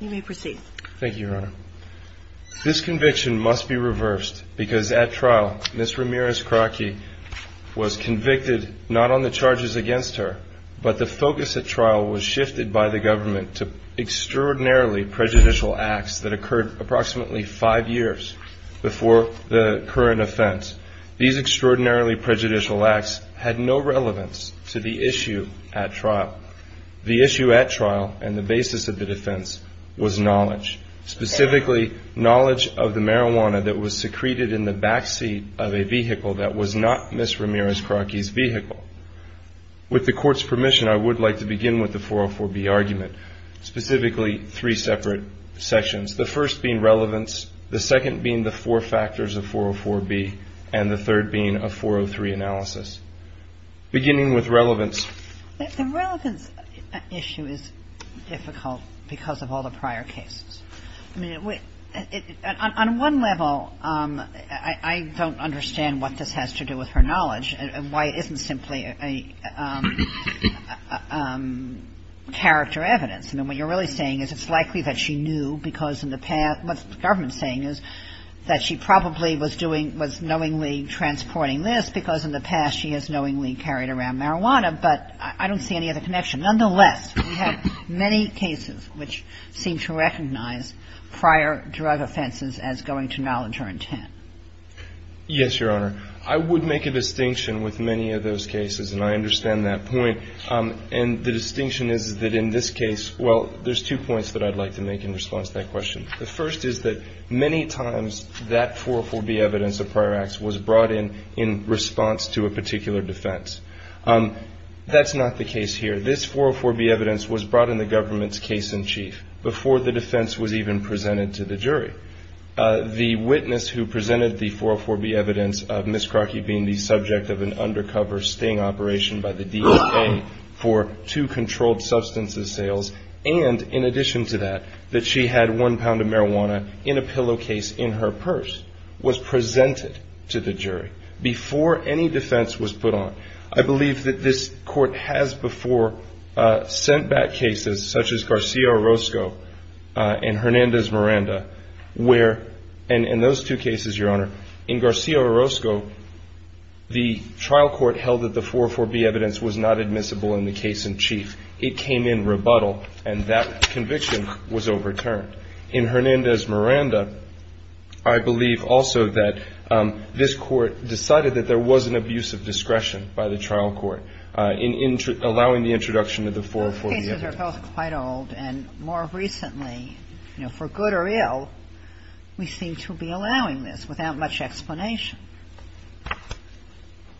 You may proceed. Thank you, Your Honor. This conviction must be reversed because at trial, Ms. Ramirez-Krotky was convicted not on the charges against her, but the focus at trial was shifted by the government to extraordinarily prejudicial acts that occurred approximately five years before the current offense. These extraordinarily prejudicial acts had no relevance to the issue at trial. The issue at trial and the basis of the defense was knowledge, specifically knowledge of the marijuana that was secreted in the backseat of a vehicle that was not Ms. Ramirez-Krotky's vehicle. With the Court's permission, I would like to begin with the 404B argument, specifically three separate sections, the first being relevance, the second being the four factors of 404B, and the third being a 403 analysis. Beginning with relevance. MS. RAMIREZ-KROTKY The relevance issue is difficult because of all the prior cases. I mean, on one level, I don't understand what this has to do with her knowledge and why it isn't simply a character evidence. I mean, what you're really saying is it's likely that she knew because in the past what the government is saying is that she probably was doing, was knowingly transporting this because in the past she has knowingly carried around marijuana, but I don't see any other connection. Nonetheless, we have many cases which seem to recognize prior drug offenses as going to knowledge or intent. MR. GOLDSTEIN Yes, Your Honor. I would make a distinction with many of those cases, and I understand that point, and the distinction is that in this case, well, there's two points that I'd like to make in response to that question. The first is that many times that 404B evidence of prior acts was brought in in response to a particular defense. That's not the case here. This 404B evidence was brought in the government's case in chief before the defense was even presented to the jury. The witness who presented the 404B evidence of Ms. Krotky being the subject of an undercover sting operation by the DA for two controlled substances sales and, in addition to that, that she had one criminal case in her purse was presented to the jury before any defense was put on. I believe that this Court has before sent back cases such as Garcia Orozco and Hernandez Miranda, where in those two cases, Your Honor, in Garcia Orozco, the trial court held that the 404B evidence was not admissible in the case in chief. It came in rebuttal, and that I believe also that this Court decided that there was an abuse of discretion by the trial court in allowing the introduction of the 404B evidence. Kagan. The cases are both quite old, and more recently, you know, for good or ill, we seem to be allowing this without much explanation.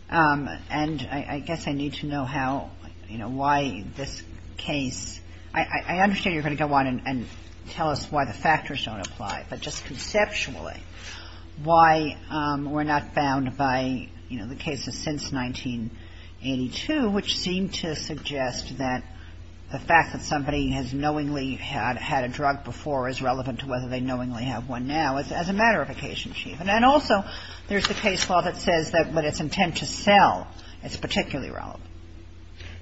And I guess I need to know how, you know, why this case – I understand you're going to go on and tell us why the factors don't apply, but just conceptually, why we're not bound by, you know, the cases since 1982, which seem to suggest that the fact that somebody has knowingly had a drug before is relevant to whether they knowingly have one now as a matter of occasion, Chief. And then also there's the case law that says that when it's intent to sell, it's particularly relevant.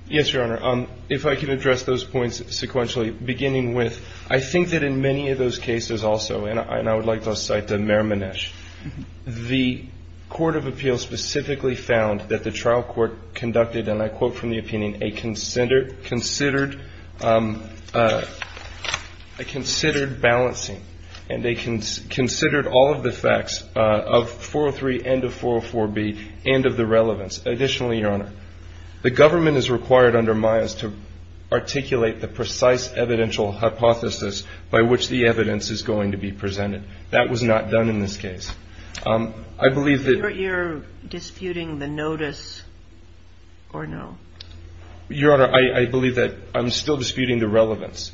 Yes, Your Honor. If I could address those points sequentially, beginning with I think that in many of those cases also, and I would like to cite the Mermanesh, the Court of Appeals specifically found that the trial court conducted, and I quote from the opinion, a considered balancing, and they considered all of the facts of 403 and of 404B and of the relevance. Additionally, Your Honor, the government is required under MIAS to articulate the precise evidential hypothesis by which the evidence is going to be presented. That was not done in this case. I believe that – You're disputing the notice or no? Your Honor, I believe that I'm still disputing the relevance,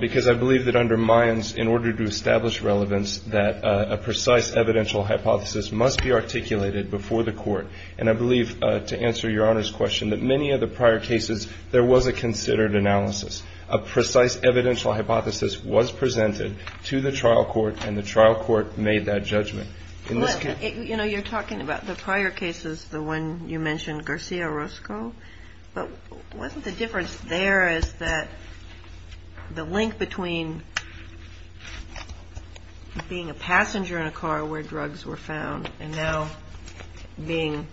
because I believe that under MIAS, in order to establish relevance, that a precise evidential hypothesis must be articulated before the court. And I believe, to answer Your Honor's question, that many of the prior cases, there was a considered analysis. A precise evidential hypothesis was presented to the trial court, and the trial court made that judgment. But, you know, you're talking about the prior cases, the one you mentioned, Garcia-Roscoe, but wasn't the difference there is that the link between being a passenger in a car where drugs were found and now being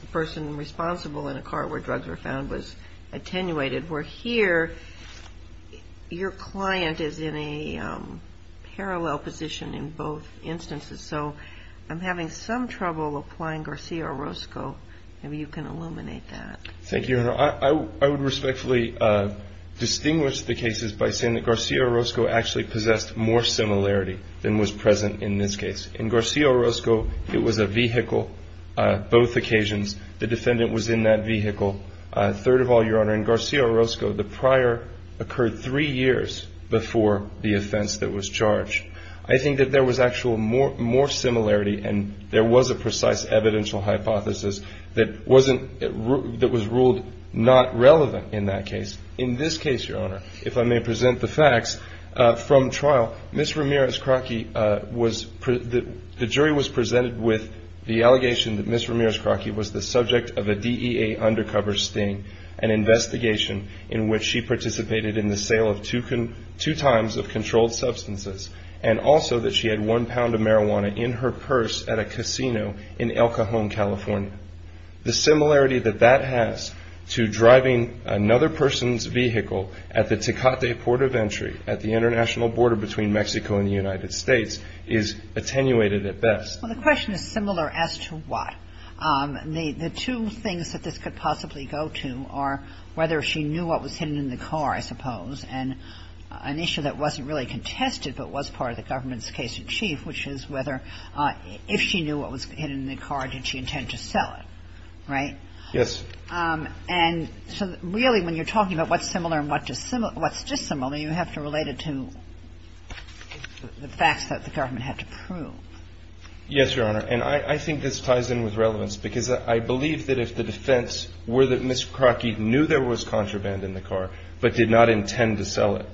the person responsible in a car where drugs were found was attenuated where here, your client is in a parallel position in both instances. So I'm having some trouble applying Garcia-Roscoe. Maybe you can illuminate that. Thank you, Your Honor. I would respectfully distinguish the cases by saying that Garcia-Roscoe actually possessed more similarity than was present in this case. In Garcia-Roscoe, it was a vehicle, both occasions, the defendant was in that vehicle. Third of all, Your Honor, in Garcia-Roscoe, the prior occurred three years before the offense that was charged. I think that there was actual more similarity, and there was a precise evidential hypothesis that was ruled not relevant in that case. In this case, Your Honor, if I may present the facts from trial, Ms. Ramirez-Crocky, the jury was convinced that Ms. Ramirez-Crocky was the subject of a DEA undercover sting, an investigation in which she participated in the sale of two times of controlled substances, and also that she had one pound of marijuana in her purse at a casino in El Cajon, California. The similarity that that has to driving another person's vehicle at the Tecate Port of Entry at the international border between Mexico and the United States is attenuated at best. Well, the question is similar as to what? The two things that this could possibly go to are whether she knew what was hidden in the car, I suppose, and an issue that wasn't really contested but was part of the government's case in chief, which is whether if she knew what was hidden in the car, did she intend to sell it, right? Yes. And so really, when you're talking about what's similar and what's dissimilar, you have to relate it to the facts that the government had to prove. Yes, Your Honor. And I think this ties in with relevance, because I believe that if the defense were that Ms. Crocky knew there was contraband in the car but did not intend to sell it,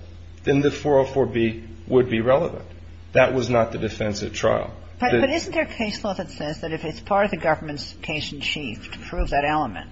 then the 404B would be relevant. That was not the defense at trial. But isn't there case law that says that if it's part of the government's case in chief to prove that element,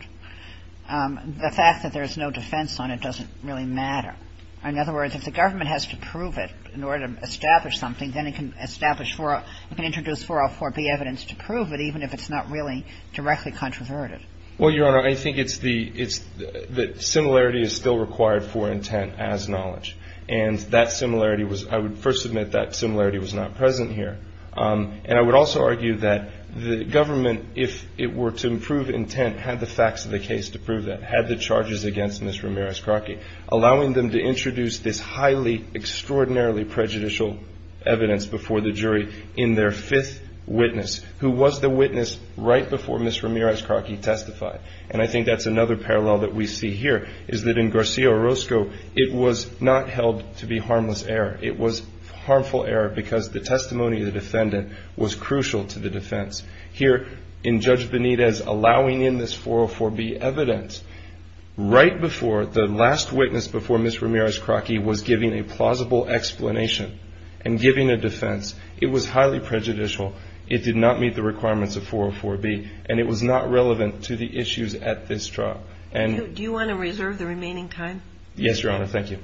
the fact that there's no defense on it doesn't really matter? In other words, if the government has to prove it in order to establish something, then it can establish 404B evidence to prove it, even if it's not really directly controverted. Well, Your Honor, I think it's the similarity is still required for intent as knowledge. And that similarity was – I would first admit that similarity was not present here. And I would also argue that the government, if it were to improve intent, had the facts of the case to prove that, had the charges against Ms. Ramirez Crocky, allowing them to introduce this highly extraordinarily prejudicial evidence before the jury in their fifth witness, who was the witness right before Ms. Ramirez Crocky testified. And I think that's another parallel that we see here, is that in Garcia Orozco, it was not held to be harmless error. It was harmful error because the testimony of the defendant was crucial to the defense. Here in Judge Benitez, allowing in this 404B evidence right before – the last witness before Ms. Ramirez Crocky was giving a plausible explanation and giving a defense, it was highly prejudicial. It did not meet the requirements of 404B. And it was not relevant to the issues at this trial. Do you want to reserve the remaining time? Yes, Your Honor. Thank you.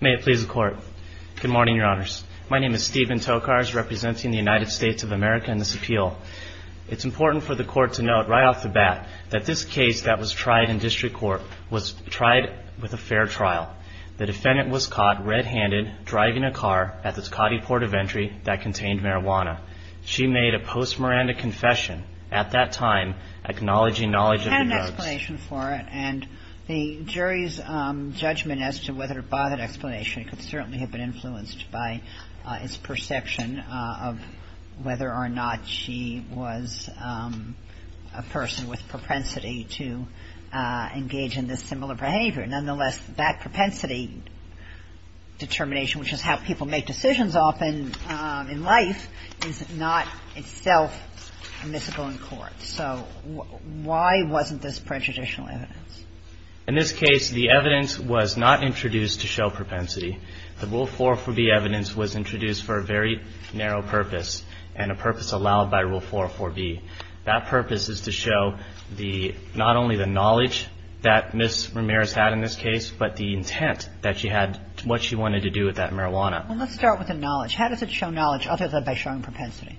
May it please the Court. Good morning, Your Honors. My name is Stephen Tokars, representing the United States of America in this appeal. It's important for the Court to note right off the bat that this case that was tried in district court was tried with a fair trial. The defendant was caught red-handed driving a car at the Scotty Port of Entry that contained marijuana. She made a post-Miranda confession at that time, acknowledging knowledge of the drugs. We had an explanation for it. And the jury's judgment as to whether it bothered explanation could certainly have been influenced by its perception of whether or not she was a person with propensity to engage in this similar behavior. Nonetheless, that propensity determination, which is how people make decisions often in life, is not itself admissible in court. So why wasn't this prejudicial evidence? In this case, the evidence was not introduced to show propensity. The Rule 404B evidence was introduced for a very narrow purpose and a purpose allowed by Rule 404B. That purpose is to show not only the knowledge that Ms. Ramirez had in this case, but the intent that she had, what she wanted to do with that marijuana. Well, let's start with the knowledge. How does it show knowledge other than by showing propensity?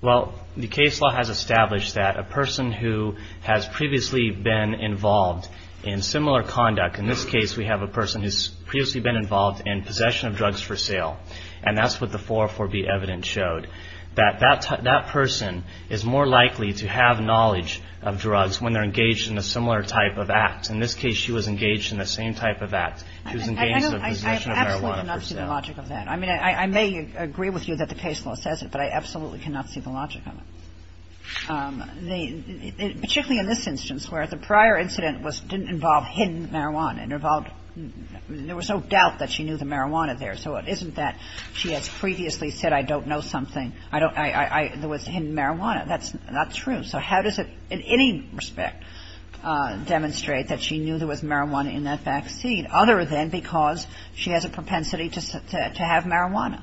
Well, the case law has established that a person who has previously been involved in similar conduct, in this case we have a person who's previously been involved in possession of drugs for sale, and that's what the 404B evidence showed, that that person is more likely to have knowledge of drugs when they're engaged in a similar type of act. In this case, she was engaged in the same type of act. She was engaged in the possession of marijuana for sale. I absolutely do not see the logic of that. I mean, I may agree with you that the case law says it, but I absolutely cannot see the logic of it, particularly in this instance where the prior incident didn't involve hidden marijuana. It involved – there was no doubt that she knew the marijuana there. So it isn't that she has previously said I don't know something. I don't – there was hidden marijuana. That's not true. So how does it in any respect demonstrate that she knew there was marijuana in that vaccine other than because she has a propensity to have marijuana?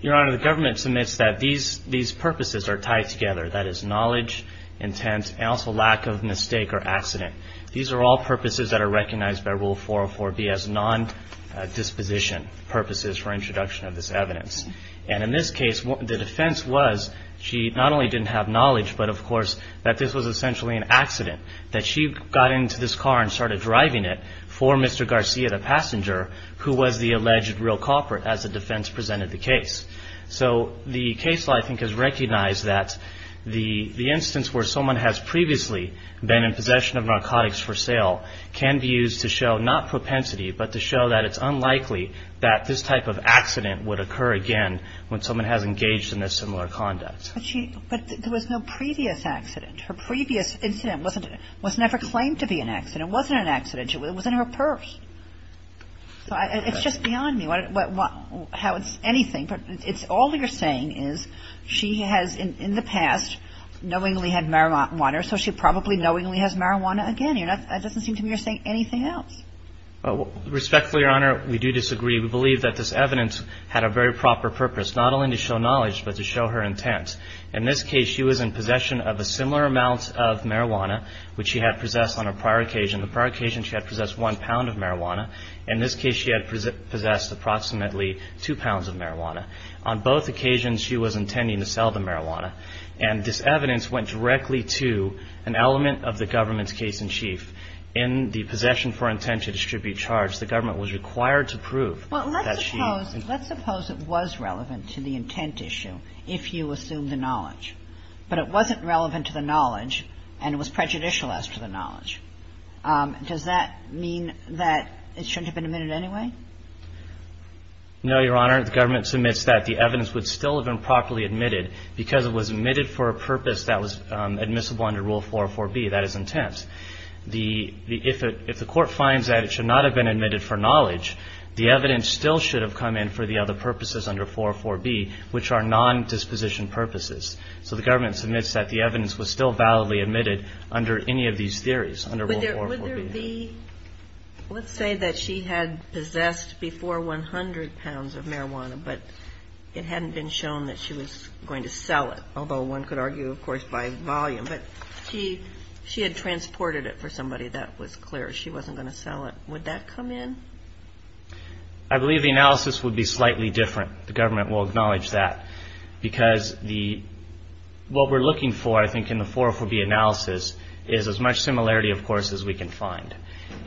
Your Honor, the government submits that these purposes are tied together, that is knowledge, intent, and also lack of mistake or accident. These are all purposes that are recognized by Rule 404B as nondisposition purposes for introduction of this evidence. And in this case, the defense was she not only didn't have knowledge, but of course that this was essentially an accident, that she got into this car and started driving it for Mr. Garcia, the passenger, who was the alleged real culprit as the defense presented the case. So the case law, I think, has recognized that the instance where someone has previously been in possession of narcotics for sale can be used to show not propensity, but to show that it's unlikely that this type of accident would occur again when someone has engaged in this similar conduct. But she – but there was no previous accident. Her previous incident was never claimed to be an accident. It wasn't an accident. It was in her purse. So it's just beyond me how it's anything. But it's all you're saying is she has in the past knowingly had marijuana, so she probably knowingly has marijuana again. It doesn't seem to me you're saying anything else. Respectfully, Your Honor, we do disagree. We believe that this evidence had a very proper purpose, not only to show knowledge, but to show her intent. In this case, she was in possession of a similar amount of marijuana, which she had possessed on a prior occasion. The prior occasion, she had possessed one pound of marijuana. In this case, she had possessed approximately two pounds of marijuana. On both occasions, she was intending to sell the marijuana. And this evidence went directly to an element of the government's case in chief. In the possession for intent to distribute charge, the government was required to prove that she – Let's suppose it was relevant to the intent issue if you assumed the knowledge. But it wasn't relevant to the knowledge and it was prejudicial as to the knowledge. Does that mean that it shouldn't have been admitted anyway? No, Your Honor. The government submits that. The evidence would still have been properly admitted because it was admitted for a purpose that was admissible under Rule 404B. That is intent. If the court finds that it should not have been admitted for knowledge, the evidence still should have come in for the other purposes under 404B, which are non-disposition purposes. So the government submits that the evidence was still validly admitted under any of these theories, under Rule 404B. Would there be – let's say that she had possessed before 100 pounds of marijuana, but it hadn't been shown that she was going to sell it, although one could argue, of course, by volume. But she had transported it for somebody. That was clear. She wasn't going to sell it. Would that come in? I believe the analysis would be slightly different. The government will acknowledge that. Because the – what we're looking for, I think, in the 404B analysis, is as much similarity, of course, as we can find.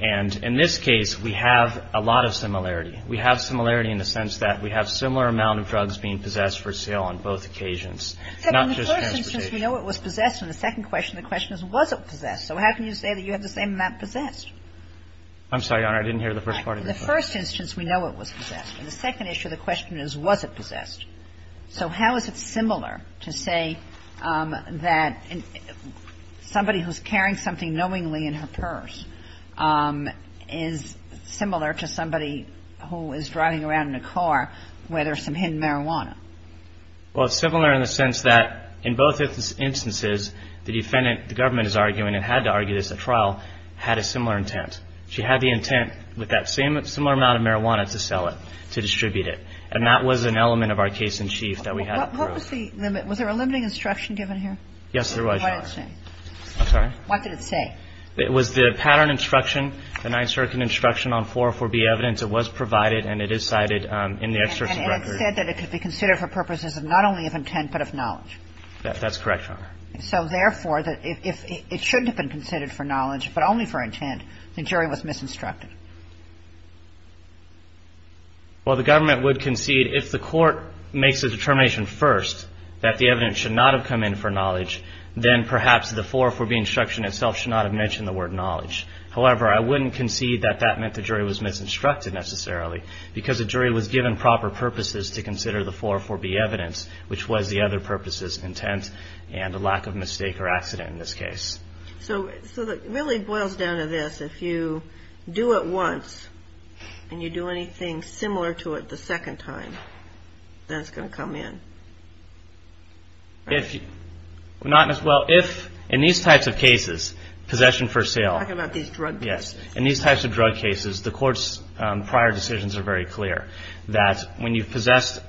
And in this case, we have a lot of similarity. We have similarity in the sense that we have similar amount of drugs being possessed for sale on both occasions, not just transportation. But in the first instance, we know it was possessed. In the second question, the question is, was it possessed? So how can you say that you have the same amount possessed? I'm sorry, Your Honor. I didn't hear the first part of your question. In the first instance, we know it was possessed. In the second issue, the question is, was it possessed? So how is it similar to say that somebody who's carrying something knowingly in her purse is similar to somebody who is driving around in a car where there's some hidden marijuana? Well, it's similar in the sense that in both instances, the defendant – the government is arguing and had to argue this at trial – had a similar intent. She had the intent with that similar amount of marijuana to sell it, to distribute it. And that was an element of our case in chief that we had to prove. What was the limit? Was there a limiting instruction given here? Yes, there was, Your Honor. What did it say? I'm sorry? What did it say? It was the pattern instruction, the 9th Circuit instruction on 404B evidence. It was provided and it is cited in the exertion record. That's correct, Your Honor. So, therefore, if it shouldn't have been considered for knowledge but only for intent, the jury was misinstructed. Well, the government would concede if the court makes a determination first that the evidence should not have come in for knowledge, then perhaps the 404B instruction itself should not have mentioned the word knowledge. However, I wouldn't concede that that meant the jury was misinstructed necessarily because the jury was given proper purposes to consider the 404B evidence, which was the other purposes, intent and a lack of mistake or accident in this case. So it really boils down to this. If you do it once and you do anything similar to it the second time, then it's going to come in. Well, if in these types of cases, possession for sale. I'm talking about these drug cases. Yes. In these types of drug cases, the court's prior decisions are very clear that when you've possession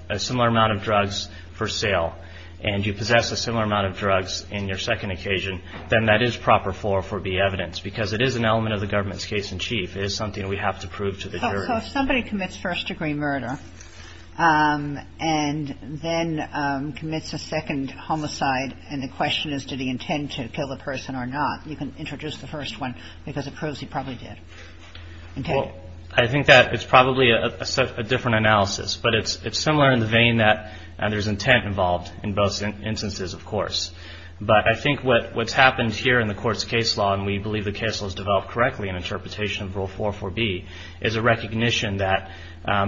for sale and you possess a similar amount of drugs in your second occasion, then that is proper 404B evidence because it is an element of the government's case in chief. It is something that we have to prove to the jury. So if somebody commits first-degree murder and then commits a second homicide and the question is did he intend to kill the person or not, you can introduce the first one because it proves he probably did. Well, I think that it's probably a different analysis, but it's similar in the vein that there's intent involved in both instances, of course. But I think what's happened here in the court's case law, and we believe the case law is developed correctly in interpretation of Rule 404B, is a recognition that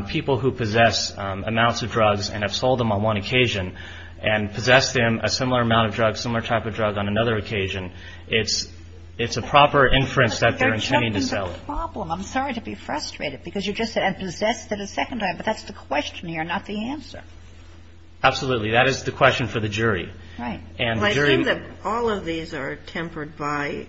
people who possess amounts of drugs and have sold them on one occasion and possess them, a similar amount of drugs, similar type of drug on another occasion, it's a proper inference that they're intending to sell. I'm sorry to be frustrated because you just said I've possessed it a second time, but that's the question here, not the answer. Absolutely. That is the question for the jury. Right. Well, I think that all of these are tempered by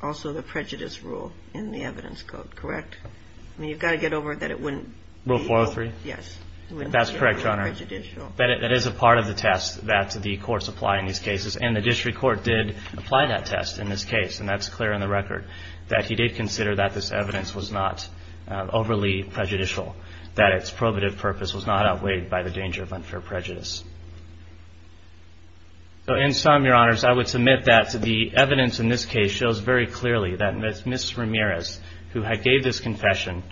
also the prejudice rule in the evidence code, correct? I mean, you've got to get over that it wouldn't be... Rule 403? Yes. That's correct, Your Honor. It wouldn't be prejudicial. But it is a part of the test that the courts apply in these cases, and the district court did apply that test in this case, and that's clear in the record, that he did consider that this evidence was not overly prejudicial, that its probative purpose was not outweighed by the danger of unfair prejudice. So in sum, Your Honors, I would submit that the evidence in this case shows very clearly that Ms. Ramirez, who had gave this confession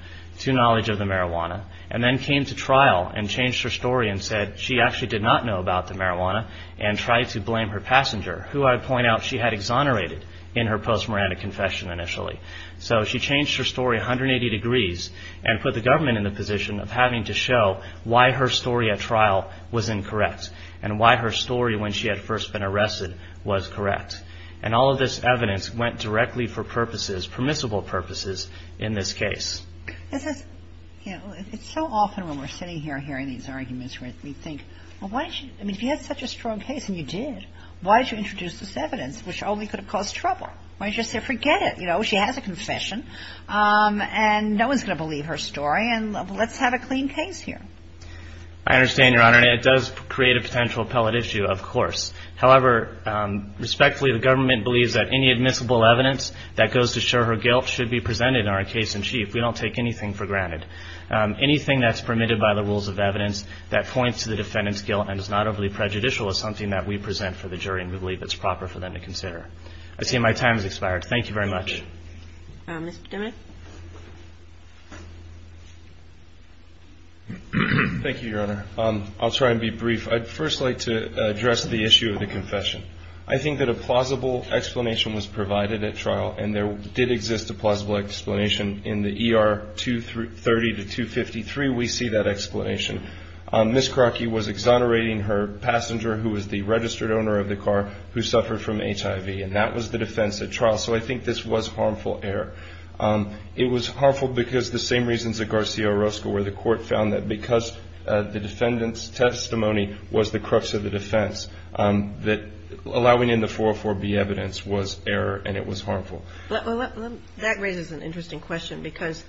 to knowledge of the marijuana and then came to trial and changed her story and said she actually did not know about the marijuana and tried to blame her passenger, who I point out she had exonerated in her post-marijuana confession initially. So she changed her story 180 degrees and put the government in the position of having to show why her story at trial was incorrect and why her story when she had first been arrested was correct. And all of this evidence went directly for purposes, permissible purposes, in this case. It's just, you know, it's so often when we're sitting here hearing these arguments where we think, I mean, if you had such a strong case and you did, why did you introduce this evidence which only could have caused trouble? Why didn't you just say forget it? You know, she has a confession and no one's going to believe her story and let's have a clean case here. I understand, Your Honor, and it does create a potential appellate issue, of course. However, respectfully, the government believes that any admissible evidence that goes to show her guilt should be presented in our case in chief. We don't take anything for granted. Anything that's permitted by the rules of evidence that points to the defendant's guilt and is not overly prejudicial is something that we present for the jury and we believe it's proper for them to consider. I see my time has expired. Thank you very much. Ms. Domenic? Thank you, Your Honor. I'll try and be brief. I'd first like to address the issue of the confession. I think that a plausible explanation was provided at trial, and there did exist a plausible explanation in the ER 230-253. We see that explanation. Ms. Krocke was exonerating her passenger, who was the registered owner of the car, who suffered from HIV, and that was the defense at trial. So I think this was harmful error. It was harmful because the same reasons that Garcia Orozco, where the court found that because the defendant's testimony was the crux of the That raises an interesting question because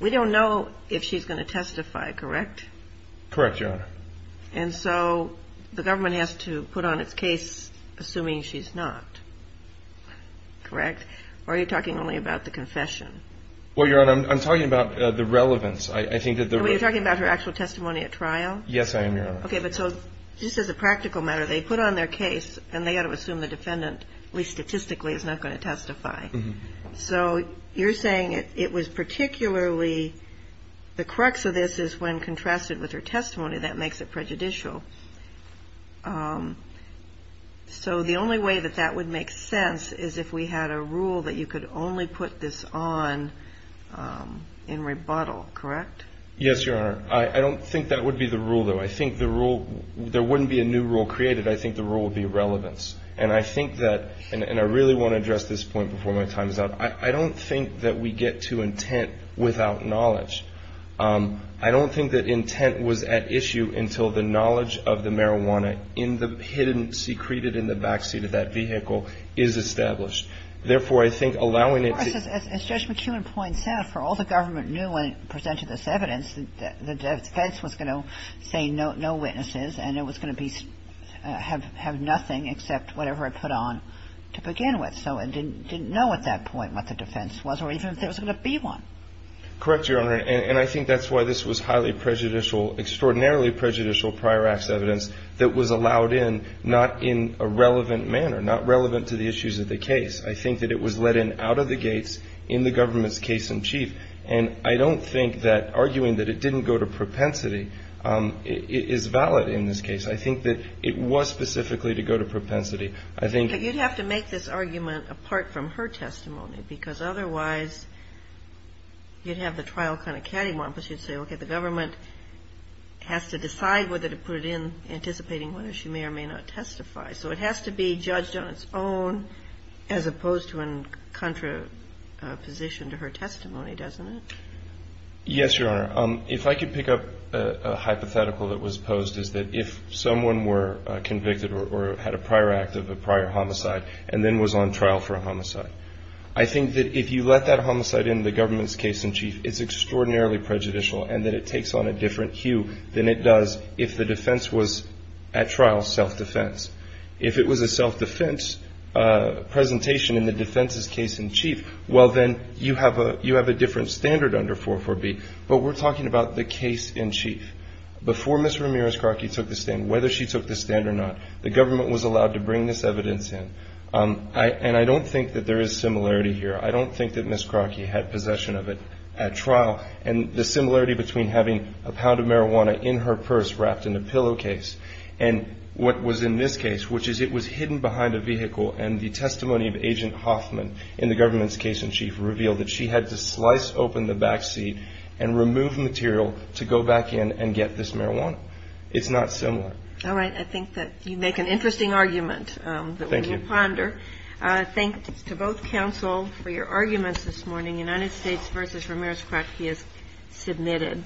we don't know if she's going to testify, correct? Correct, Your Honor. And so the government has to put on its case assuming she's not. Correct? Or are you talking only about the confession? Well, Your Honor, I'm talking about the relevance. I think that the relevance. Oh, you're talking about her actual testimony at trial? Yes, I am, Your Honor. Okay, but so just as a practical matter, they put on their case and they got to assume the defendant, at least statistically, is not going to testify. So you're saying it was particularly the crux of this is when contrasted with her testimony, that makes it prejudicial. So the only way that that would make sense is if we had a rule that you could only put this on in rebuttal, correct? Yes, Your Honor. I don't think that would be the rule, though. I think the rule, there wouldn't be a new rule created. I think the rule would be relevance. And I think that, and I really want to address this point before my time is up, I don't think that we get to intent without knowledge. I don't think that intent was at issue until the knowledge of the marijuana in the hidden, secreted in the backseat of that vehicle is established. Therefore, I think allowing it to Of course, as Judge McKeown points out, for all the government knew when it presented this evidence, the defense was going to say no witnesses and it was going to have nothing except whatever it put on to begin with. So it didn't know at that point what the defense was or even if there was going to be one. Correct, Your Honor. And I think that's why this was highly prejudicial, extraordinarily prejudicial prior acts evidence that was allowed in, not in a relevant manner, not relevant to the issues of the case. I think that it was let in out of the gates in the government's case in chief. And I don't think that arguing that it didn't go to propensity is valid in this case. I think that it was specifically to go to propensity. I think But you'd have to make this argument apart from her testimony because otherwise you'd have the trial kind of cattywampus. You'd say, okay, the government has to decide whether to put it in anticipating whether she may or may not testify. So it has to be judged on its own as opposed to in contraposition to her testimony, doesn't it? Yes, Your Honor. If I could pick up a hypothetical that was posed is that if someone were convicted or had a prior act of a prior homicide and then was on trial for a homicide, I think that if you let that homicide in the government's case in chief, it's extraordinarily prejudicial and that it takes on a different hue than it does if the defense was at trial self-defense. If it was a self-defense presentation in the defense's case in chief, well, then you have a different standard under 4-4-B. But we're talking about the case in chief. Before Ms. Ramirez-Crocky took the stand, whether she took the stand or not, the government was allowed to bring this evidence in. And I don't think that there is similarity here. I don't think that Ms. Crocky had possession of it at trial. And the similarity between having a pound of marijuana in her purse wrapped in a pillowcase and what was in this case, which is it was hidden behind a vehicle, and the testimony of Agent Hoffman in the government's case in chief revealed that she had to slice open the backseat and remove material to go back in and get this marijuana. It's not similar. All right. I think that you make an interesting argument that we will ponder. Thank you. Thank you, counsel, for your arguments this morning. United States v. Ramirez-Crocky is submitted.